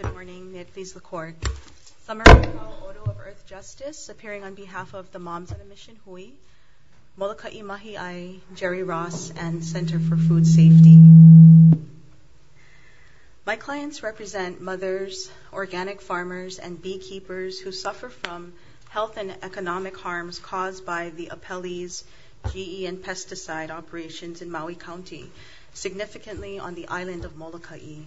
Good morning. May it please the Court. Summary of the Oto of Earth Justice, appearing on behalf of the Moms on a Mission Hui, Molokaʻi Mahiʻi, Jerry Ross, and Center for Food Safety. My clients represent mothers, organic farmers, and beekeepers who suffer from health and obesity, significantly on the island of Molokaʻi.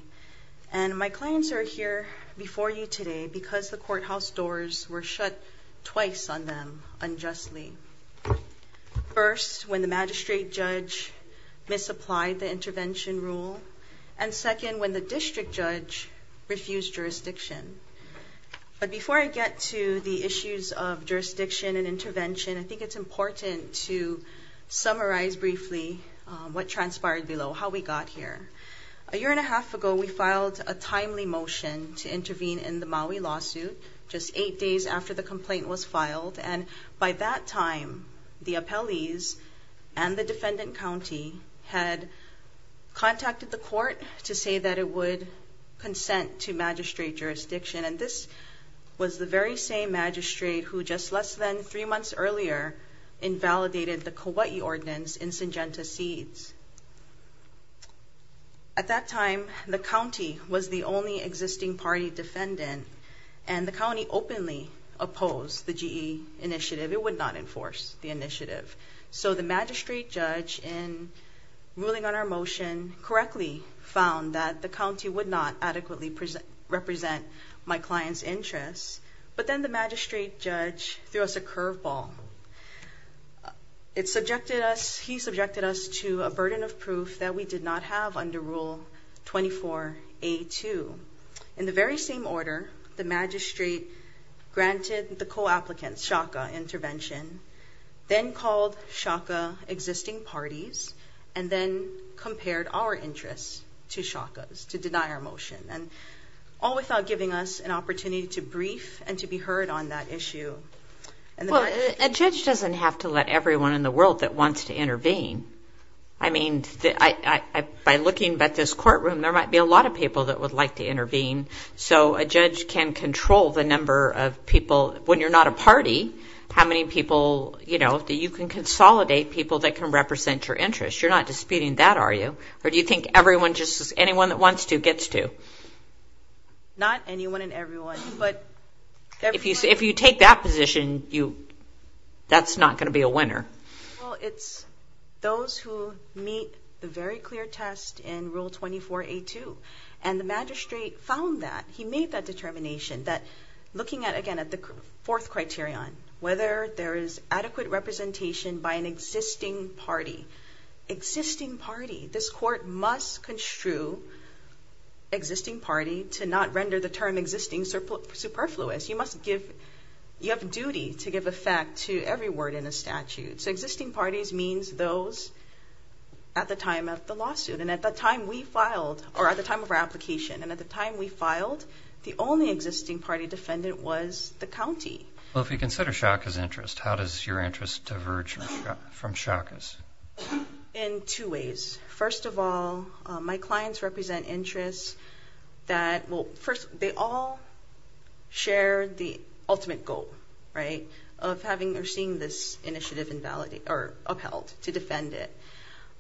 And my clients are here before you today because the courthouse doors were shut twice on them unjustly. First, when the magistrate judge misapplied the intervention rule, and second, when the district judge refused jurisdiction. But before I get to the issues of jurisdiction and intervention, I think it's important to summarize briefly what transpired below, how we got here. A year and a half ago, we filed a timely motion to intervene in the Maui lawsuit, just eight days after the complaint was filed. And by that time, the appellees and the defendant county had contacted the court to say that it would consent to magistrate jurisdiction. And this was the very same magistrate who just less than three months earlier, invalidated the Kauaʻi Ordinance in Syngenta Seeds. At that time, the county was the only existing party defendant, and the county openly opposed the GE initiative. It would not enforce the initiative. So the magistrate judge, in ruling on our motion, correctly found that the county would not adequately represent my client's district. The magistrate judge threw us a curveball. He subjected us to a burden of proof that we did not have under Rule 24A2. In the very same order, the magistrate granted the co-applicants, Shaka Intervention, then called Shaka existing parties, and then compared our interests to Shaka's, to deny our motion. And all without giving us an opportunity to go on that issue. Well, a judge doesn't have to let everyone in the world that wants to intervene. I mean, by looking at this courtroom, there might be a lot of people that would like to intervene. So a judge can control the number of people, when you're not a party, how many people, you know, that you can consolidate people that can represent your interests. You're not disputing that, are you? Or do you think everyone just, anyone that wants to gets to? Not anyone and everyone, but... If you take that position, that's not going to be a winner. Well, it's those who meet the very clear test in Rule 24A2. And the magistrate found that, he made that determination, that looking at, again, at the fourth criterion, whether there is adequate representation by an existing party. Existing party. This court must construe existing party to not render the term existing superfluous. You must give, you have a duty to give effect to every word in a statute. So existing parties means those at the time of the lawsuit. And at the time we filed, or at the time of our application. And at the time we filed, the only existing party defendant was the county. Well, if you consider Shaka's interest, how does your interest diverge from Shaka's? In two ways. First of all, my clients represent interests that, well, first, they all share the ultimate goal, right, of having or seeing this initiative upheld, to defend it.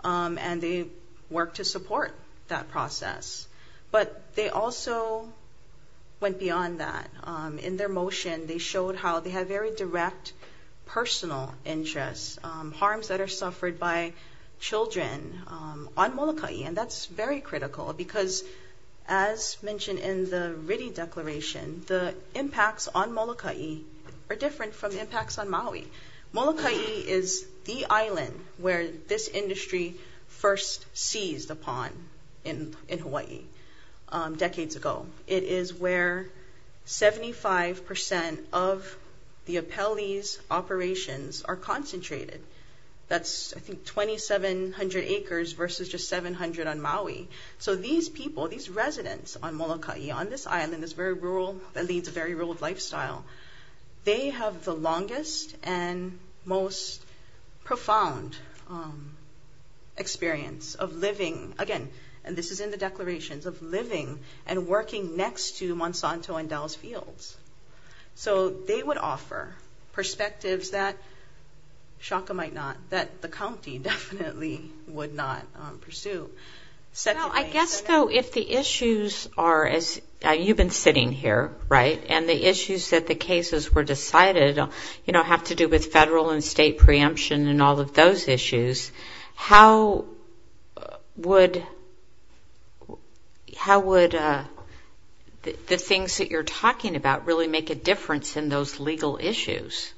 And they work to support that process. But they also went beyond that. In their motion, they showed how they have very direct personal interests, harms that are suffered by children on Molokaʻi. And that's very critical because, as mentioned in the Ritty Declaration, the impacts on Molokaʻi are different from impacts on Maui. Molokaʻi is the island where this of the Apele's operations are concentrated. That's, I think, 2,700 acres versus just 700 on Maui. So these people, these residents on Molokaʻi, on this island that's very rural, that leads a very rural lifestyle, they have the longest and most profound experience of living, again, and this is in the declarations, of living and working next to Monsanto and they would offer perspectives that Shaka might not, that the county definitely would not pursue. Well, I guess, though, if the issues are, as you've been sitting here, right, and the issues that the cases were decided, you know, have to do with federal and state preemption and all of those issues, how would, how would the things that you're talking about really make a difference in those legal issues?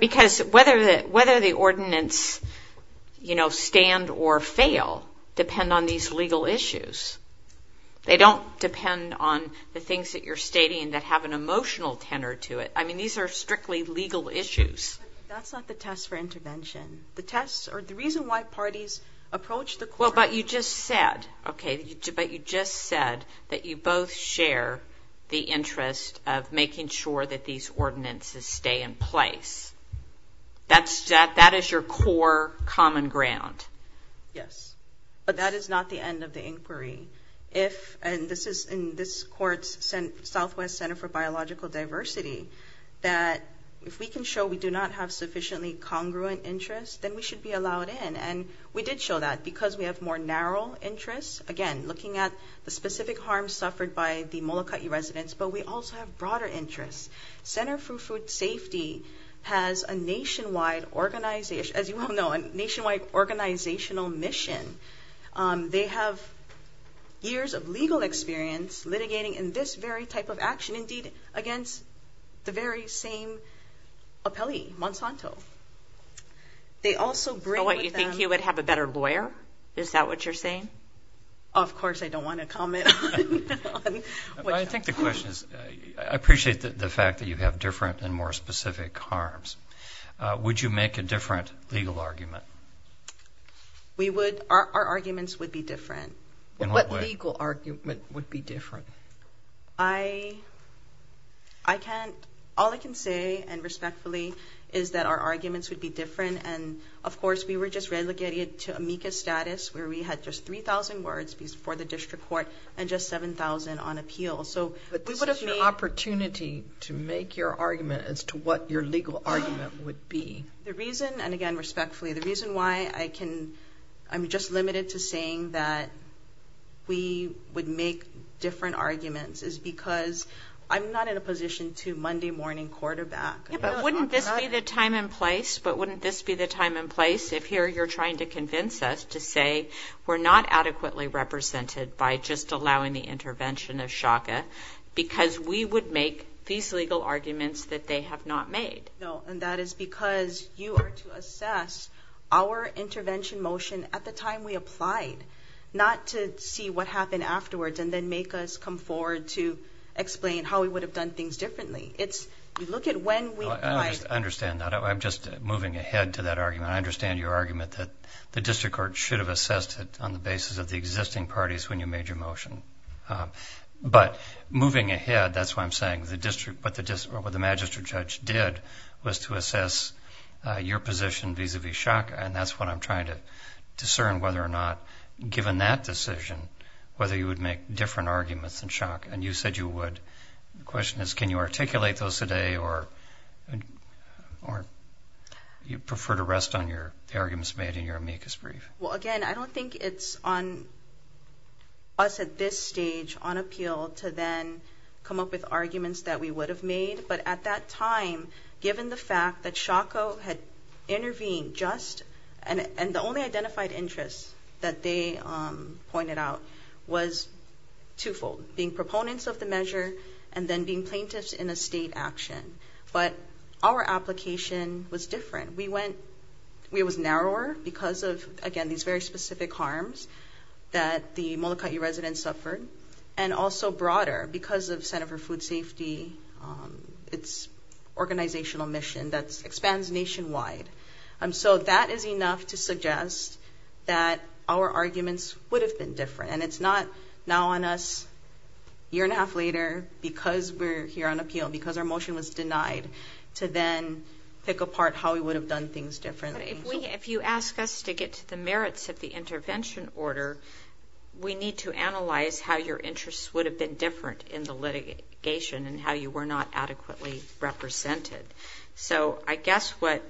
Because whether the ordinance, you know, stand or fail depend on these legal issues. They don't depend on the things that you're stating that have an emotional tenor to it. I mean, these are strictly legal issues. But that's not the test for intervention. The test, or the reason why parties approach the court. Well, but you just said, okay, but you just said that you both share the interest of making sure that these ordinances stay in place. That is your core common ground. Yes. But that is not the end of the inquiry. If, and this is in this court's Southwest Center for Biological Diversity, that if we can show we do not have sufficiently congruent interest, then we should be allowed in. And we did show that because we have more narrow interests. Again, looking at the specific harm suffered by the Molokai residents, but we also have broader interests. Center for Food Safety has a nationwide organization, as you all know, a nationwide organizational mission. They have years of legal experience litigating in this very type of action, indeed, against the very same appellee, Monsanto. They also bring with them... So what, you think he would have a better lawyer? Is that what you're saying? Of course, I don't want to comment on... I think the question is, I appreciate the fact that you have different and more specific harms. Would you make a different legal argument? We would. Our arguments would be different. In what way? What legal argument would be different? I can't... All I can say, and respectfully, is that our arguments would be different. And, of course, we were just relegated to amicus status, where we had just 3,000 words for the district court and just 7,000 on appeal. But this is your opportunity to make your argument as to what your legal argument would be. The reason, and again, respectfully, the reason why I can... I'm just limited to saying that we would make different arguments is because I'm not in a position to Monday morning quarterback. Yeah, but wouldn't this be the time and place? But wouldn't this be the time and place if here you're trying to convince us to say we're not adequately represented by just allowing the intervention of SHCA because we would make these legal arguments that they have not made? No, and that is because you are to assess our intervention motion at the time we applied, not to see what happened afterwards and then make us come forward to explain how we would have done things differently. It's, you look at when we applied... I understand that. I'm just moving ahead to that argument. I understand your argument that the district court should have assessed it on the basis of the existing parties when you made your motion. But moving ahead, that's why I'm saying what the magistrate judge did was to assess your position vis-a-vis SHCA. And that's what I'm trying to discern whether or not, given that decision, whether you would make different arguments than SHCA. And you said you would. The question is, can you articulate those today or you prefer to rest on your arguments made in your amicus brief? Well, again, I don't think it's on us at this stage on appeal to then come up with arguments that we would have made. But at that time, given the fact that SHACO had intervened just, and the only identified interests that they pointed out was twofold, being proponents of the measure and then being plaintiffs in a state action. But our application was different. We went, it was narrower because of, again, these very specific harms that the Molokai residents suffered. And also broader because of Center for Food Safety, its organizational mission that expands nationwide. So that is enough to suggest that our arguments would have been different. And it's not now on us, year and a half later, because we're here on appeal, because our If you ask us to get to the merits of the intervention order, we need to analyze how your interests would have been different in the litigation and how you were not adequately represented. So I guess what,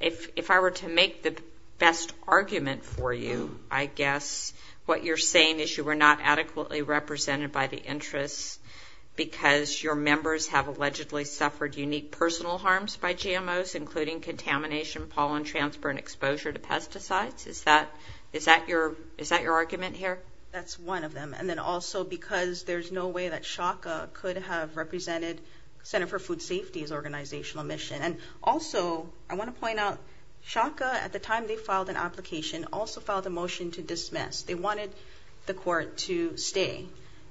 if I were to make the best argument for you, I guess what you're saying is you were not adequately represented by the interests because your members have allegedly suffered unique personal harms by GMOs, including contamination, pollen transfer, and exposure to pesticides. Is that your argument here? That's one of them. And then also because there's no way that SHACO could have represented Center for Food Safety's organizational mission. And also, I want to point out, SHACO, at the time they filed an application, also filed a motion to dismiss. They wanted the court to stay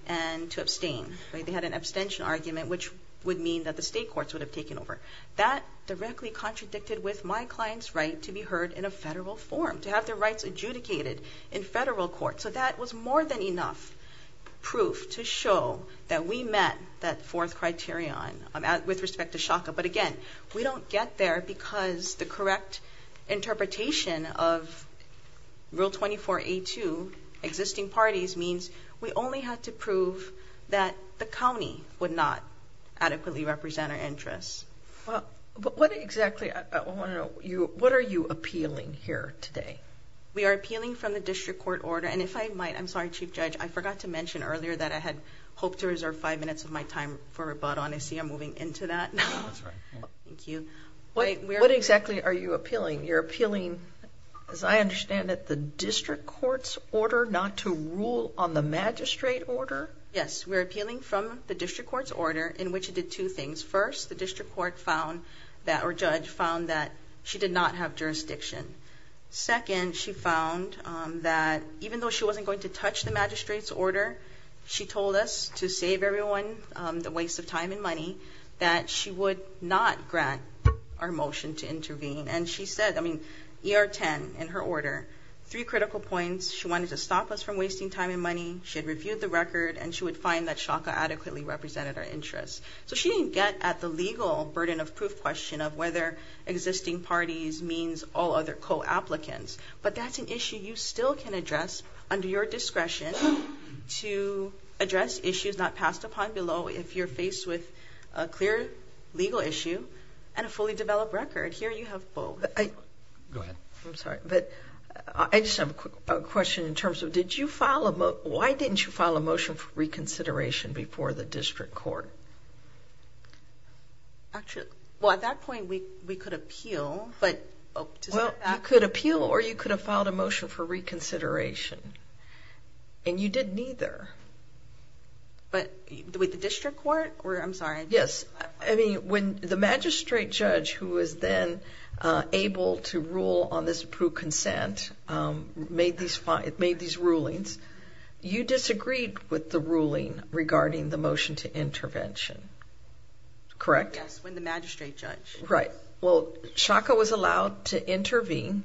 and to abstain. They had an abstention argument, which would mean that the state courts would have taken over. That directly contradicted with my client's right to be heard in a federal forum, to have their rights adjudicated in federal court. So that was more than enough proof to show that we met that fourth criterion with respect to SHACO. But again, we don't get there because the correct interpretation of Rule 24A2, existing parties, means we only have to prove that the county would not adequately represent our interests. What exactly, I want to know, what are you appealing here today? We are appealing from the district court order. And if I might, I'm sorry, Chief Judge, I forgot to mention earlier that I had hoped to reserve five minutes of my time for rebuttal. And I see I'm moving into that now. Thank you. What exactly are you appealing? You're appealing, as I understand it, the district court's order not to rule on the magistrate order? Yes, we're appealing from the district court's order, in which it did two things. First, the district court found that, or judge found that she did not have jurisdiction. Second, she found that even though she wasn't going to touch the magistrate's order, she told us to save everyone the waste of time and money, that she would not grant our motion to intervene. And she said, I mean, ER 10, in her order, three critical points. She wanted to stop us from wasting time and money. She had reviewed the record. And she would find that Shaka adequately represented our interests. So she didn't get at the legal burden of proof question of whether existing parties means all other co-applicants. But that's an issue you still can address under your discretion to address issues not passed upon below if you're faced with a clear legal issue and a fully developed record. Here you have both. Go ahead. I'm sorry. But I just have a quick question in terms of, did you file a motion, why didn't you file a motion for reconsideration before the district court? Actually, well, at that point, we could appeal. Well, you could appeal or you could have filed a motion for reconsideration. And you did neither. But with the district court? I'm sorry. Yes. I mean, when the magistrate judge, who was then able to rule on this approved consent, made these rulings, you disagreed with the ruling regarding the motion to intervention. Correct? Yes, when the magistrate judge. Right. Well, Shaka was allowed to intervene.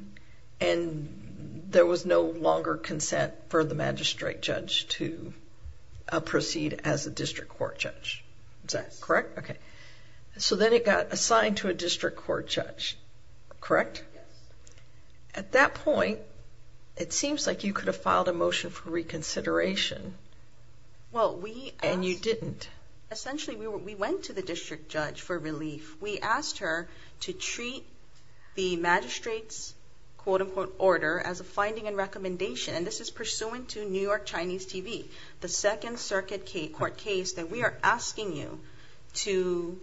And there was no longer consent for the magistrate judge to proceed as a district court judge. Is that correct? Yes. Okay. So then it got assigned to a district court judge. Correct? Yes. At that point, it seems like you could have filed a motion for reconsideration. Well, we asked. And you didn't. Essentially, we went to the district judge for relief. We asked her to treat the magistrate's, quote, unquote, order as a finding and recommendation. And this is pursuant to New York Chinese TV. The second circuit court case that we are asking you to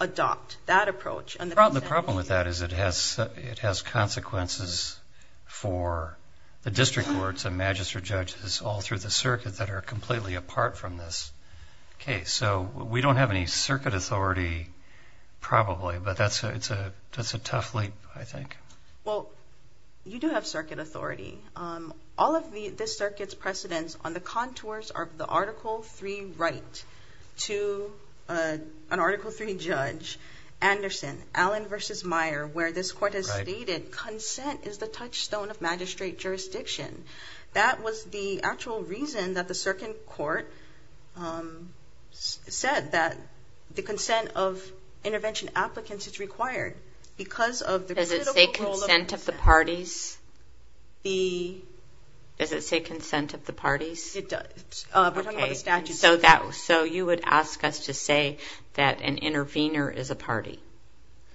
adopt that approach. The problem with that is it has consequences for the district courts and magistrate judges all through the circuit that are completely apart from this case. So we don't have any circuit authority, probably, but that's a tough leap, I think. Well, you do have circuit authority. All of this circuit's precedents on the contours of the Article III right to an Article III judge, Anderson, Allen v. Meyer, where this court has stated consent is the touchstone of magistrate jurisdiction. That was the actual reason that the circuit court said that the consent of intervention applicants is required. Does it say consent of the parties? The... Does it say consent of the parties? It does. We're talking about the statute. So you would ask us to say that an intervener is a party.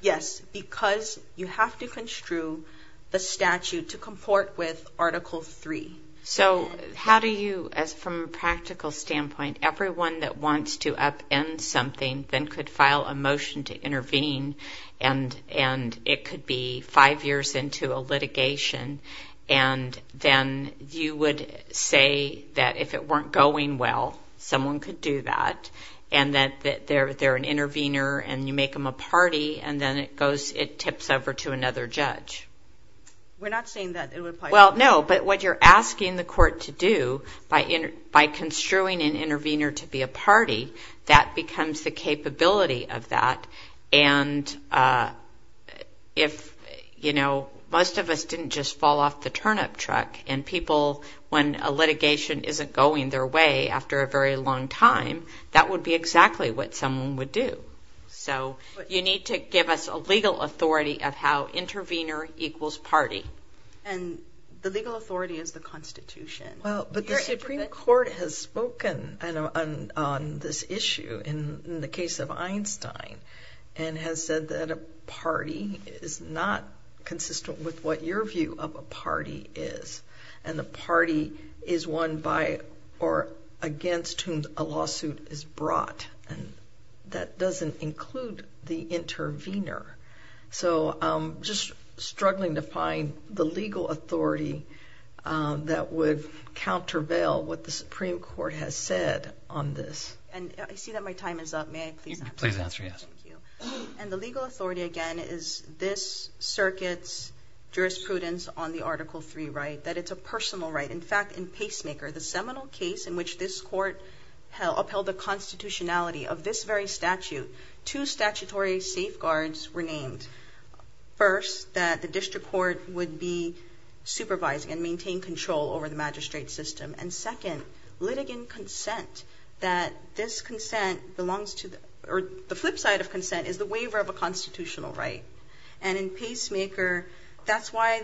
Yes, because you have to construe the statute to comport with Article III. So how do you, as from a practical standpoint, everyone that wants to upend something, then could file a motion to intervene, and it could be five years into a litigation, and then you would say that if it weren't going well, someone could do that, and that they're an intervener, and you make them a party, and then it tips over to another judge. We're not saying that. Well, no, but what you're asking the court to do, by construing an intervener to be a party, that becomes the capability of that, and if, you know, most of us didn't just fall off the turnip truck, and people, when a litigation isn't going their way after a very long time, that would be exactly what someone would do. So you need to give us a legal authority of how intervener equals party. And the legal authority is the Constitution. Well, but the Supreme Court has spoken on this issue in the case of Einstein and has said that a party is not consistent with what your view of a party is, and the party is one by or against whom a lawsuit is brought, and that doesn't include the intervener. So I'm just struggling to find the legal authority that would countervail what the Supreme Court has said on this. And I see that my time is up. May I please answer? Please answer, yes. Thank you. And the legal authority, again, is this circuit's jurisprudence on the Article III right, that it's a personal right. In fact, in Pacemaker, the seminal case in which this court upheld the constitutionality of this very statute, two statutory safeguards were named. First, that the district court would be supervising and maintain control over the magistrate system. And second, litigant consent, that this consent belongs to the – or the flip side of consent is the waiver of a constitutional right. And in Pacemaker, that's why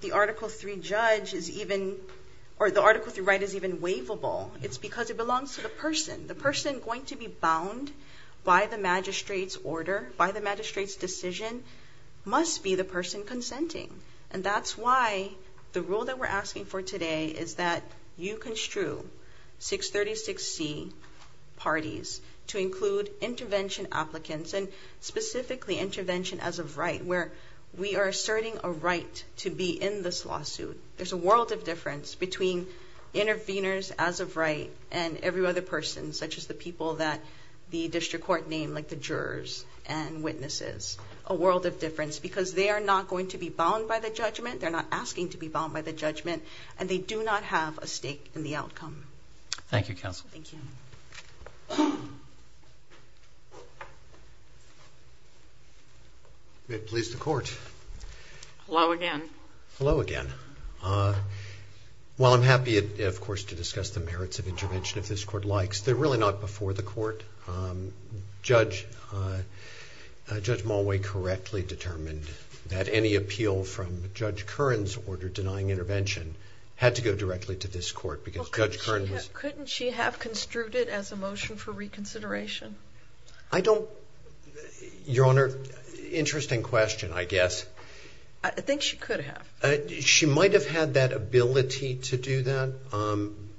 the Article III judge is even – or the Article III right is even waivable. It's because it belongs to the person. The person going to be bound by the magistrate's order, by the magistrate's decision, must be the person consenting. And that's why the rule that we're asking for today is that you construe 636C parties to include intervention applicants, and specifically intervention as of right, where we are asserting a right to be in this lawsuit. There's a world of difference between interveners as of right and every other person, such as the people that the district court named, like the jurors and witnesses. A world of difference, because they are not going to be bound by the judgment. They're not asking to be bound by the judgment. And they do not have a stake in the outcome. Thank you, Counsel. Thank you. May it please the Court. Hello again. Hello again. While I'm happy, of course, to discuss the merits of intervention, if this Court likes, they're really not before the Court. Judge Mulway correctly determined that any appeal from Judge Curran's order denying intervention had to go directly to this Court, because Judge Curran was – Couldn't she have construed it as a motion for reconsideration? I don't – Your Honor, interesting question, I guess. I think she could have. She might have had that ability to do that,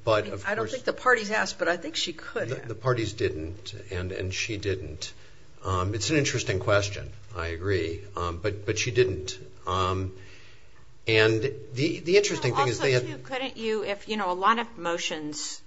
but of course – I don't think the parties asked, but I think she could have. The parties didn't, and she didn't. It's an interesting question. I agree. But she didn't. And the interesting thing is – Also, too, couldn't you – if, you know, a lot of motions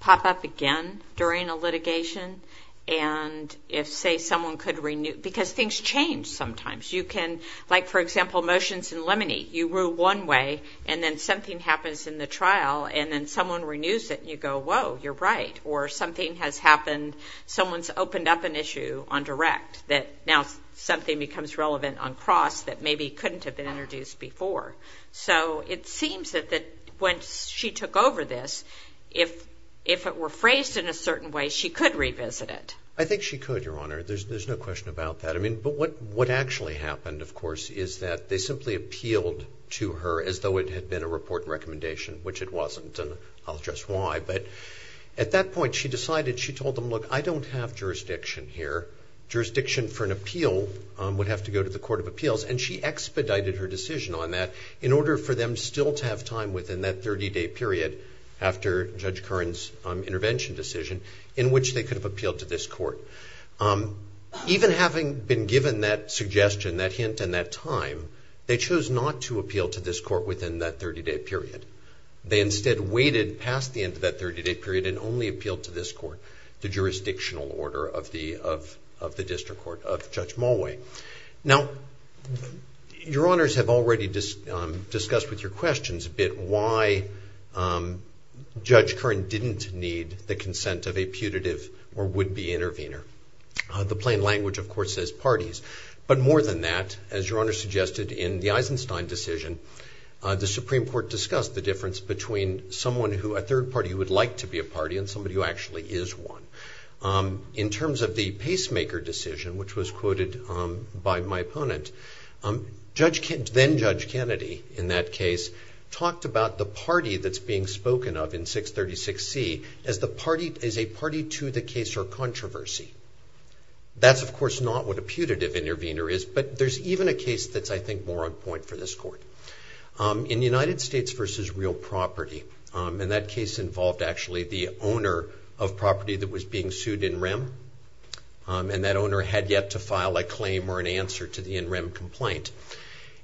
pop up again during a litigation, and if, say, someone could renew – because things change sometimes. You can – like, for example, motions in Lemony, you rule one way, and then something happens in the trial, and then someone renews it, and you go, whoa, you're right. Or something has happened – someone's opened up an issue on direct, that now something becomes relevant on cross that maybe couldn't have been introduced before. So it seems that when she took over this, if it were phrased in a certain way, she could revisit it. I think she could, Your Honor. There's no question about that. But what actually happened, of course, is that they simply appealed to her as though it had been a report recommendation, which it wasn't, and I'll address why. But at that point, she decided – she told them, look, I don't have jurisdiction here. Jurisdiction for an appeal would have to go to the Court of Appeals, and she expedited her decision on that in order for them still to have time within that 30-day period after Judge Curran's intervention decision in which they could have appealed to this court. Even having been given that suggestion, that hint, and that time, they chose not to appeal to this court within that 30-day period. They instead waited past the end of that 30-day period and only appealed to this court, the jurisdictional order of the district court, of Judge Mulway. Now, Your Honors have already discussed with your questions a bit why Judge Curran didn't need the consent of a putative or would-be intervener. The plain language, of course, says parties. But more than that, as Your Honor suggested, in the Eisenstein decision, the Supreme Court discussed the difference between someone who – a third party who would like to be a party and somebody who actually is one. In terms of the pacemaker decision, which was quoted by my opponent, then-Judge Kennedy, in that case, talked about the party that's being spoken of in 636C as a party to the case or controversy. That's, of course, not what a putative intervener is, but there's even a case that's, I think, more on point for this court. In the United States v. Real Property, and that case involved actually the owner of property that was being sued in rem, and that owner had yet to file a claim or an answer to the in rem complaint.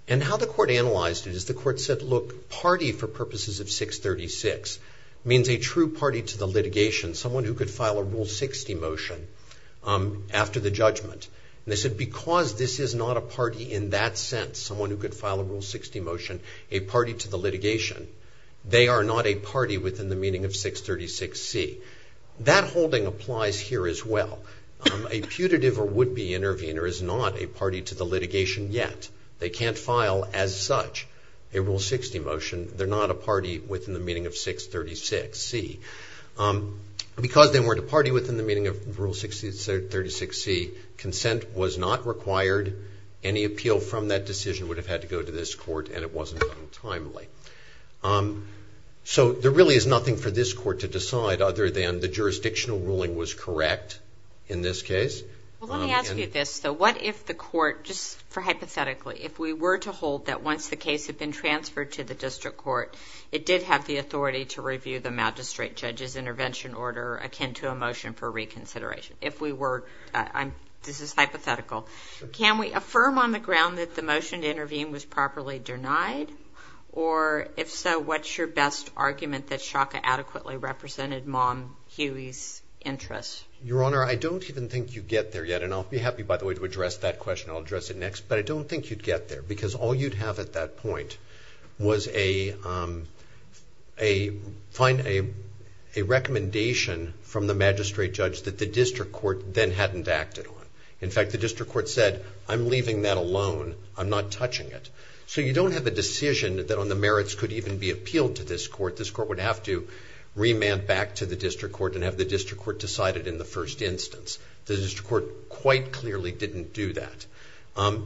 And how the court analyzed it is the court said, look, party for purposes of 636 means a true party to the litigation, someone who could file a Rule 60 motion after the judgment. And they said because this is not a party in that sense, someone who could file a Rule 60 motion, a party to the litigation, they are not a party within the meaning of 636C. That holding applies here as well. A putative or would-be intervener is not a party to the litigation yet. They can't file, as such, a Rule 60 motion. They're not a party within the meaning of 636C. Because they weren't a party within the meaning of Rule 636C, consent was not required. Any appeal from that decision would have had to go to this court, and it wasn't done timely. So there really is nothing for this court to decide other than the jurisdictional ruling was correct in this case. Well, let me ask you this, though. What if the court, just hypothetically, if we were to hold that once the case had been transferred to the district court, it did have the authority to review the magistrate judge's intervention order akin to a motion for reconsideration? If we were, this is hypothetical, can we affirm on the ground that the motion to intervene was properly denied? Or, if so, what's your best argument that Shaka adequately represented Mom Huey's interests? Your Honor, I don't even think you'd get there yet, and I'll be happy, by the way, to address that question. I'll address it next. But I don't think you'd get there, because all you'd have at that point was a recommendation from the magistrate judge that the district court then hadn't acted on. In fact, the district court said, I'm leaving that alone, I'm not touching it. So you don't have a decision that, on the merits, could even be appealed to this court. This court would have to remand back to the district court and have the district court decide it in the first instance. The district court quite clearly didn't do that. Well,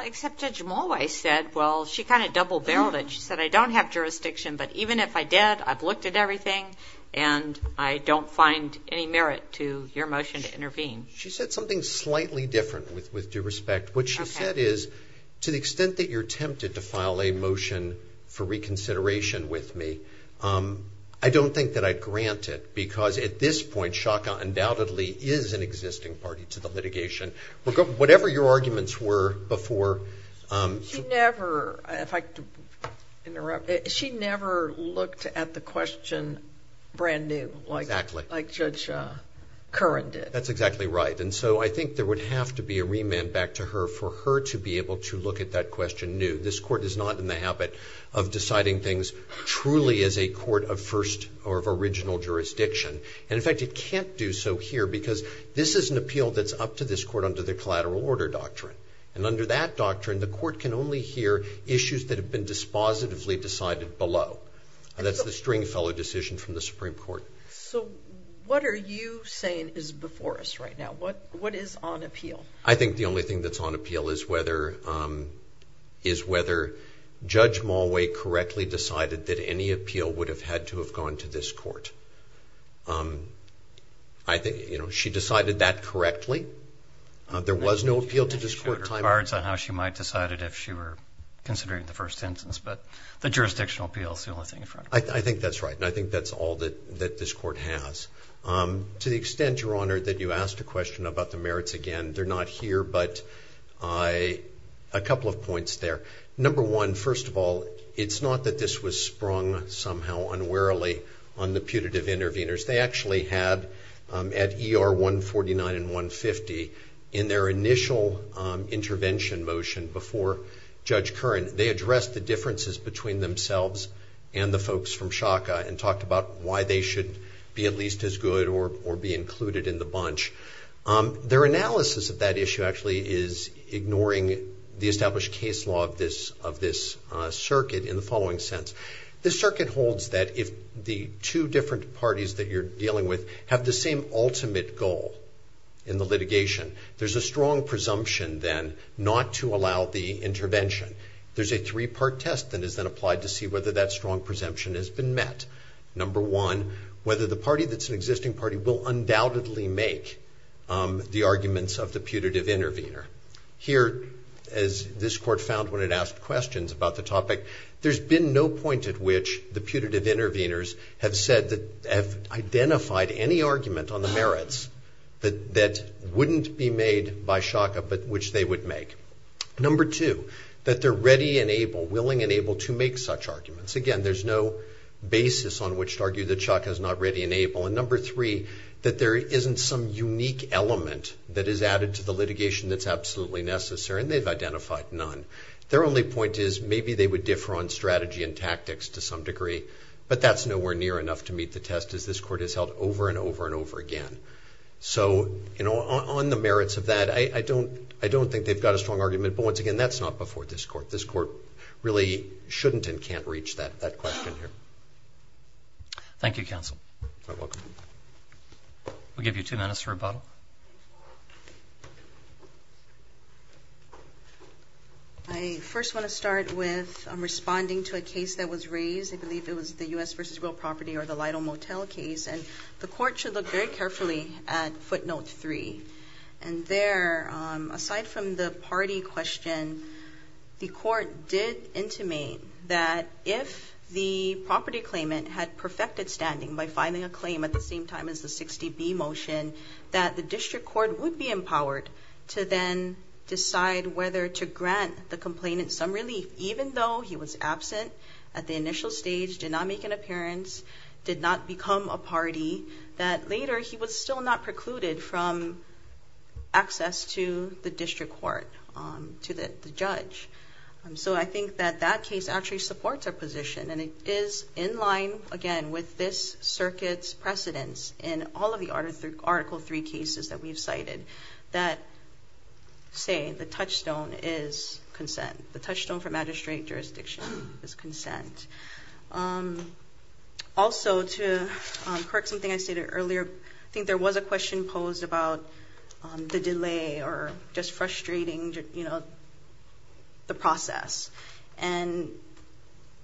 except Judge Mulway said, well, she kind of double-barreled it. She said, I don't have jurisdiction, but even if I did, I've looked at everything, and I don't find any merit to your motion to intervene. She said something slightly different, with due respect. What she said is, to the extent that you're tempted to file a motion for reconsideration with me, I don't think that I'd grant it, because at this point, Shaka undoubtedly is an existing party to the litigation. Whatever your arguments were before. She never looked at the question brand new, like Judge Curran did. That's exactly right. And so I think there would have to be a remand back to her for her to be able to look at that question new. This court is not in the habit of deciding things truly as a court of first or of original jurisdiction. And, in fact, it can't do so here, because this is an appeal that's up to this court under the collateral order doctrine. And under that doctrine, the court can only hear issues that have been dispositively decided below. That's the Stringfellow decision from the Supreme Court. So what are you saying is before us right now? What is on appeal? I think the only thing that's on appeal is whether Judge Mulway correctly decided that any appeal would have had to have gone to this court. She decided that correctly. There was no appeal to this court. She showed her cards on how she might have decided if she were considering the first sentence, but the jurisdictional appeal is the only thing in front of her. I think that's right. And I think that's all that this court has. To the extent, Your Honor, that you asked a question about the merits again, they're not here, but a couple of points there. Number one, first of all, it's not that this was sprung somehow unwarily on the putative interveners. They actually had at ER 149 and 150, in their initial intervention motion before Judge Curran, they addressed the differences between themselves and the folks from Shaka and talked about why they should be at least as good or be included in the bunch. Their analysis of that issue actually is ignoring the established case law of this circuit in the following sense. The circuit holds that if the two different parties that you're dealing with have the same ultimate goal in the litigation, there's a strong presumption then not to allow the intervention. There's a three-part test that is then applied to see whether that strong presumption has been met. Number one, whether the party that's an existing party will undoubtedly make the arguments of the putative intervener. Here, as this court found when it asked questions about the topic, there's been no point at which the putative interveners have said that, have identified any argument on the merits that wouldn't be made by Shaka, but which they would make. Number two, that they're ready and able, willing and able to make such arguments. Again, there's no basis on which to argue that Shaka is not ready and able. And number three, that there isn't some unique element that is added to the litigation that's absolutely necessary and they've identified none. Their only point is maybe they would differ on strategy and tactics to some extent as this court has held over and over and over again. So on the merits of that, I don't think they've got a strong argument. But once again, that's not before this court. This court really shouldn't and can't reach that question here. Thank you, counsel. You're welcome. We'll give you two minutes for rebuttal. I first want to start with responding to a case that was raised. I believe it was the U.S. vs. Real Property or the Lytle Motel case. And the court should look very carefully at footnote three. And there, aside from the party question, the court did intimate that if the property claimant had perfected standing by filing a claim at the same time as the 60B motion, that the district court would be empowered to then decide whether to grant the complainant some relief, even though he was absent at the initial stage, did not make an appearance, did not become a party, that later he was still not precluded from access to the district court, to the judge. So I think that that case actually supports our position. And it is in line, again, with this circuit's precedence in all of the Article III cases that we've cited that say the touchstone is consent, the touchstone for magistrate jurisdiction is consent. Also, to correct something I stated earlier, I think there was a question posed about the delay or just frustrating, you know, the process. And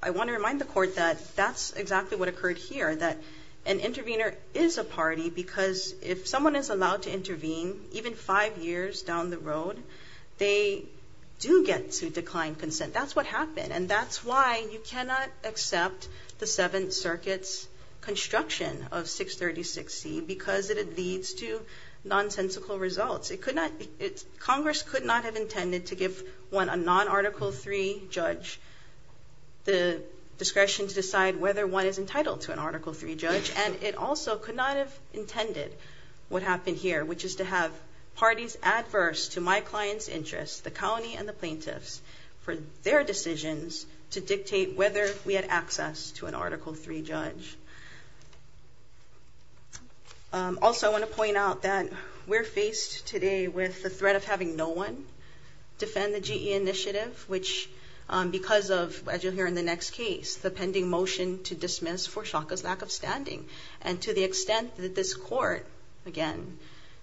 I want to remind the court that that's exactly what occurred here, that an intervener is a party because if someone is allowed to intervene, even five years down the road, they do get to decline consent. That's what happened. And that's why you cannot accept the Seventh Circuit's construction of 636C because it leads to nonsensical results. Congress could not have intended to give one, a non-Article III judge, the discretion to decide whether one is entitled to an Article III judge. And it also could not have intended what happened here, which is to have parties adverse to my client's interests, the county and the plaintiffs, for their decisions to dictate whether we had access to an Article III judge. Also, I want to point out that we're faced today with the threat of having no one defend the GE initiative, which because of, as you'll hear in the next case, the pending motion to dismiss for Shaka's lack of standing and to the extent that this court, again,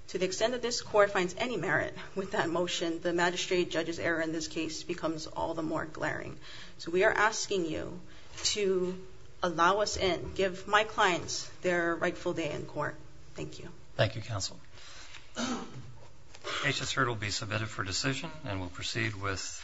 to the extent that this court finds any merit with that motion, the magistrate judge's error in this case becomes all the more glaring. So we are asking you to allow us in, give my clients their rightful day in court. Thank you. Thank you, Counsel. H.S. Heard will be submitted for decision and will proceed with.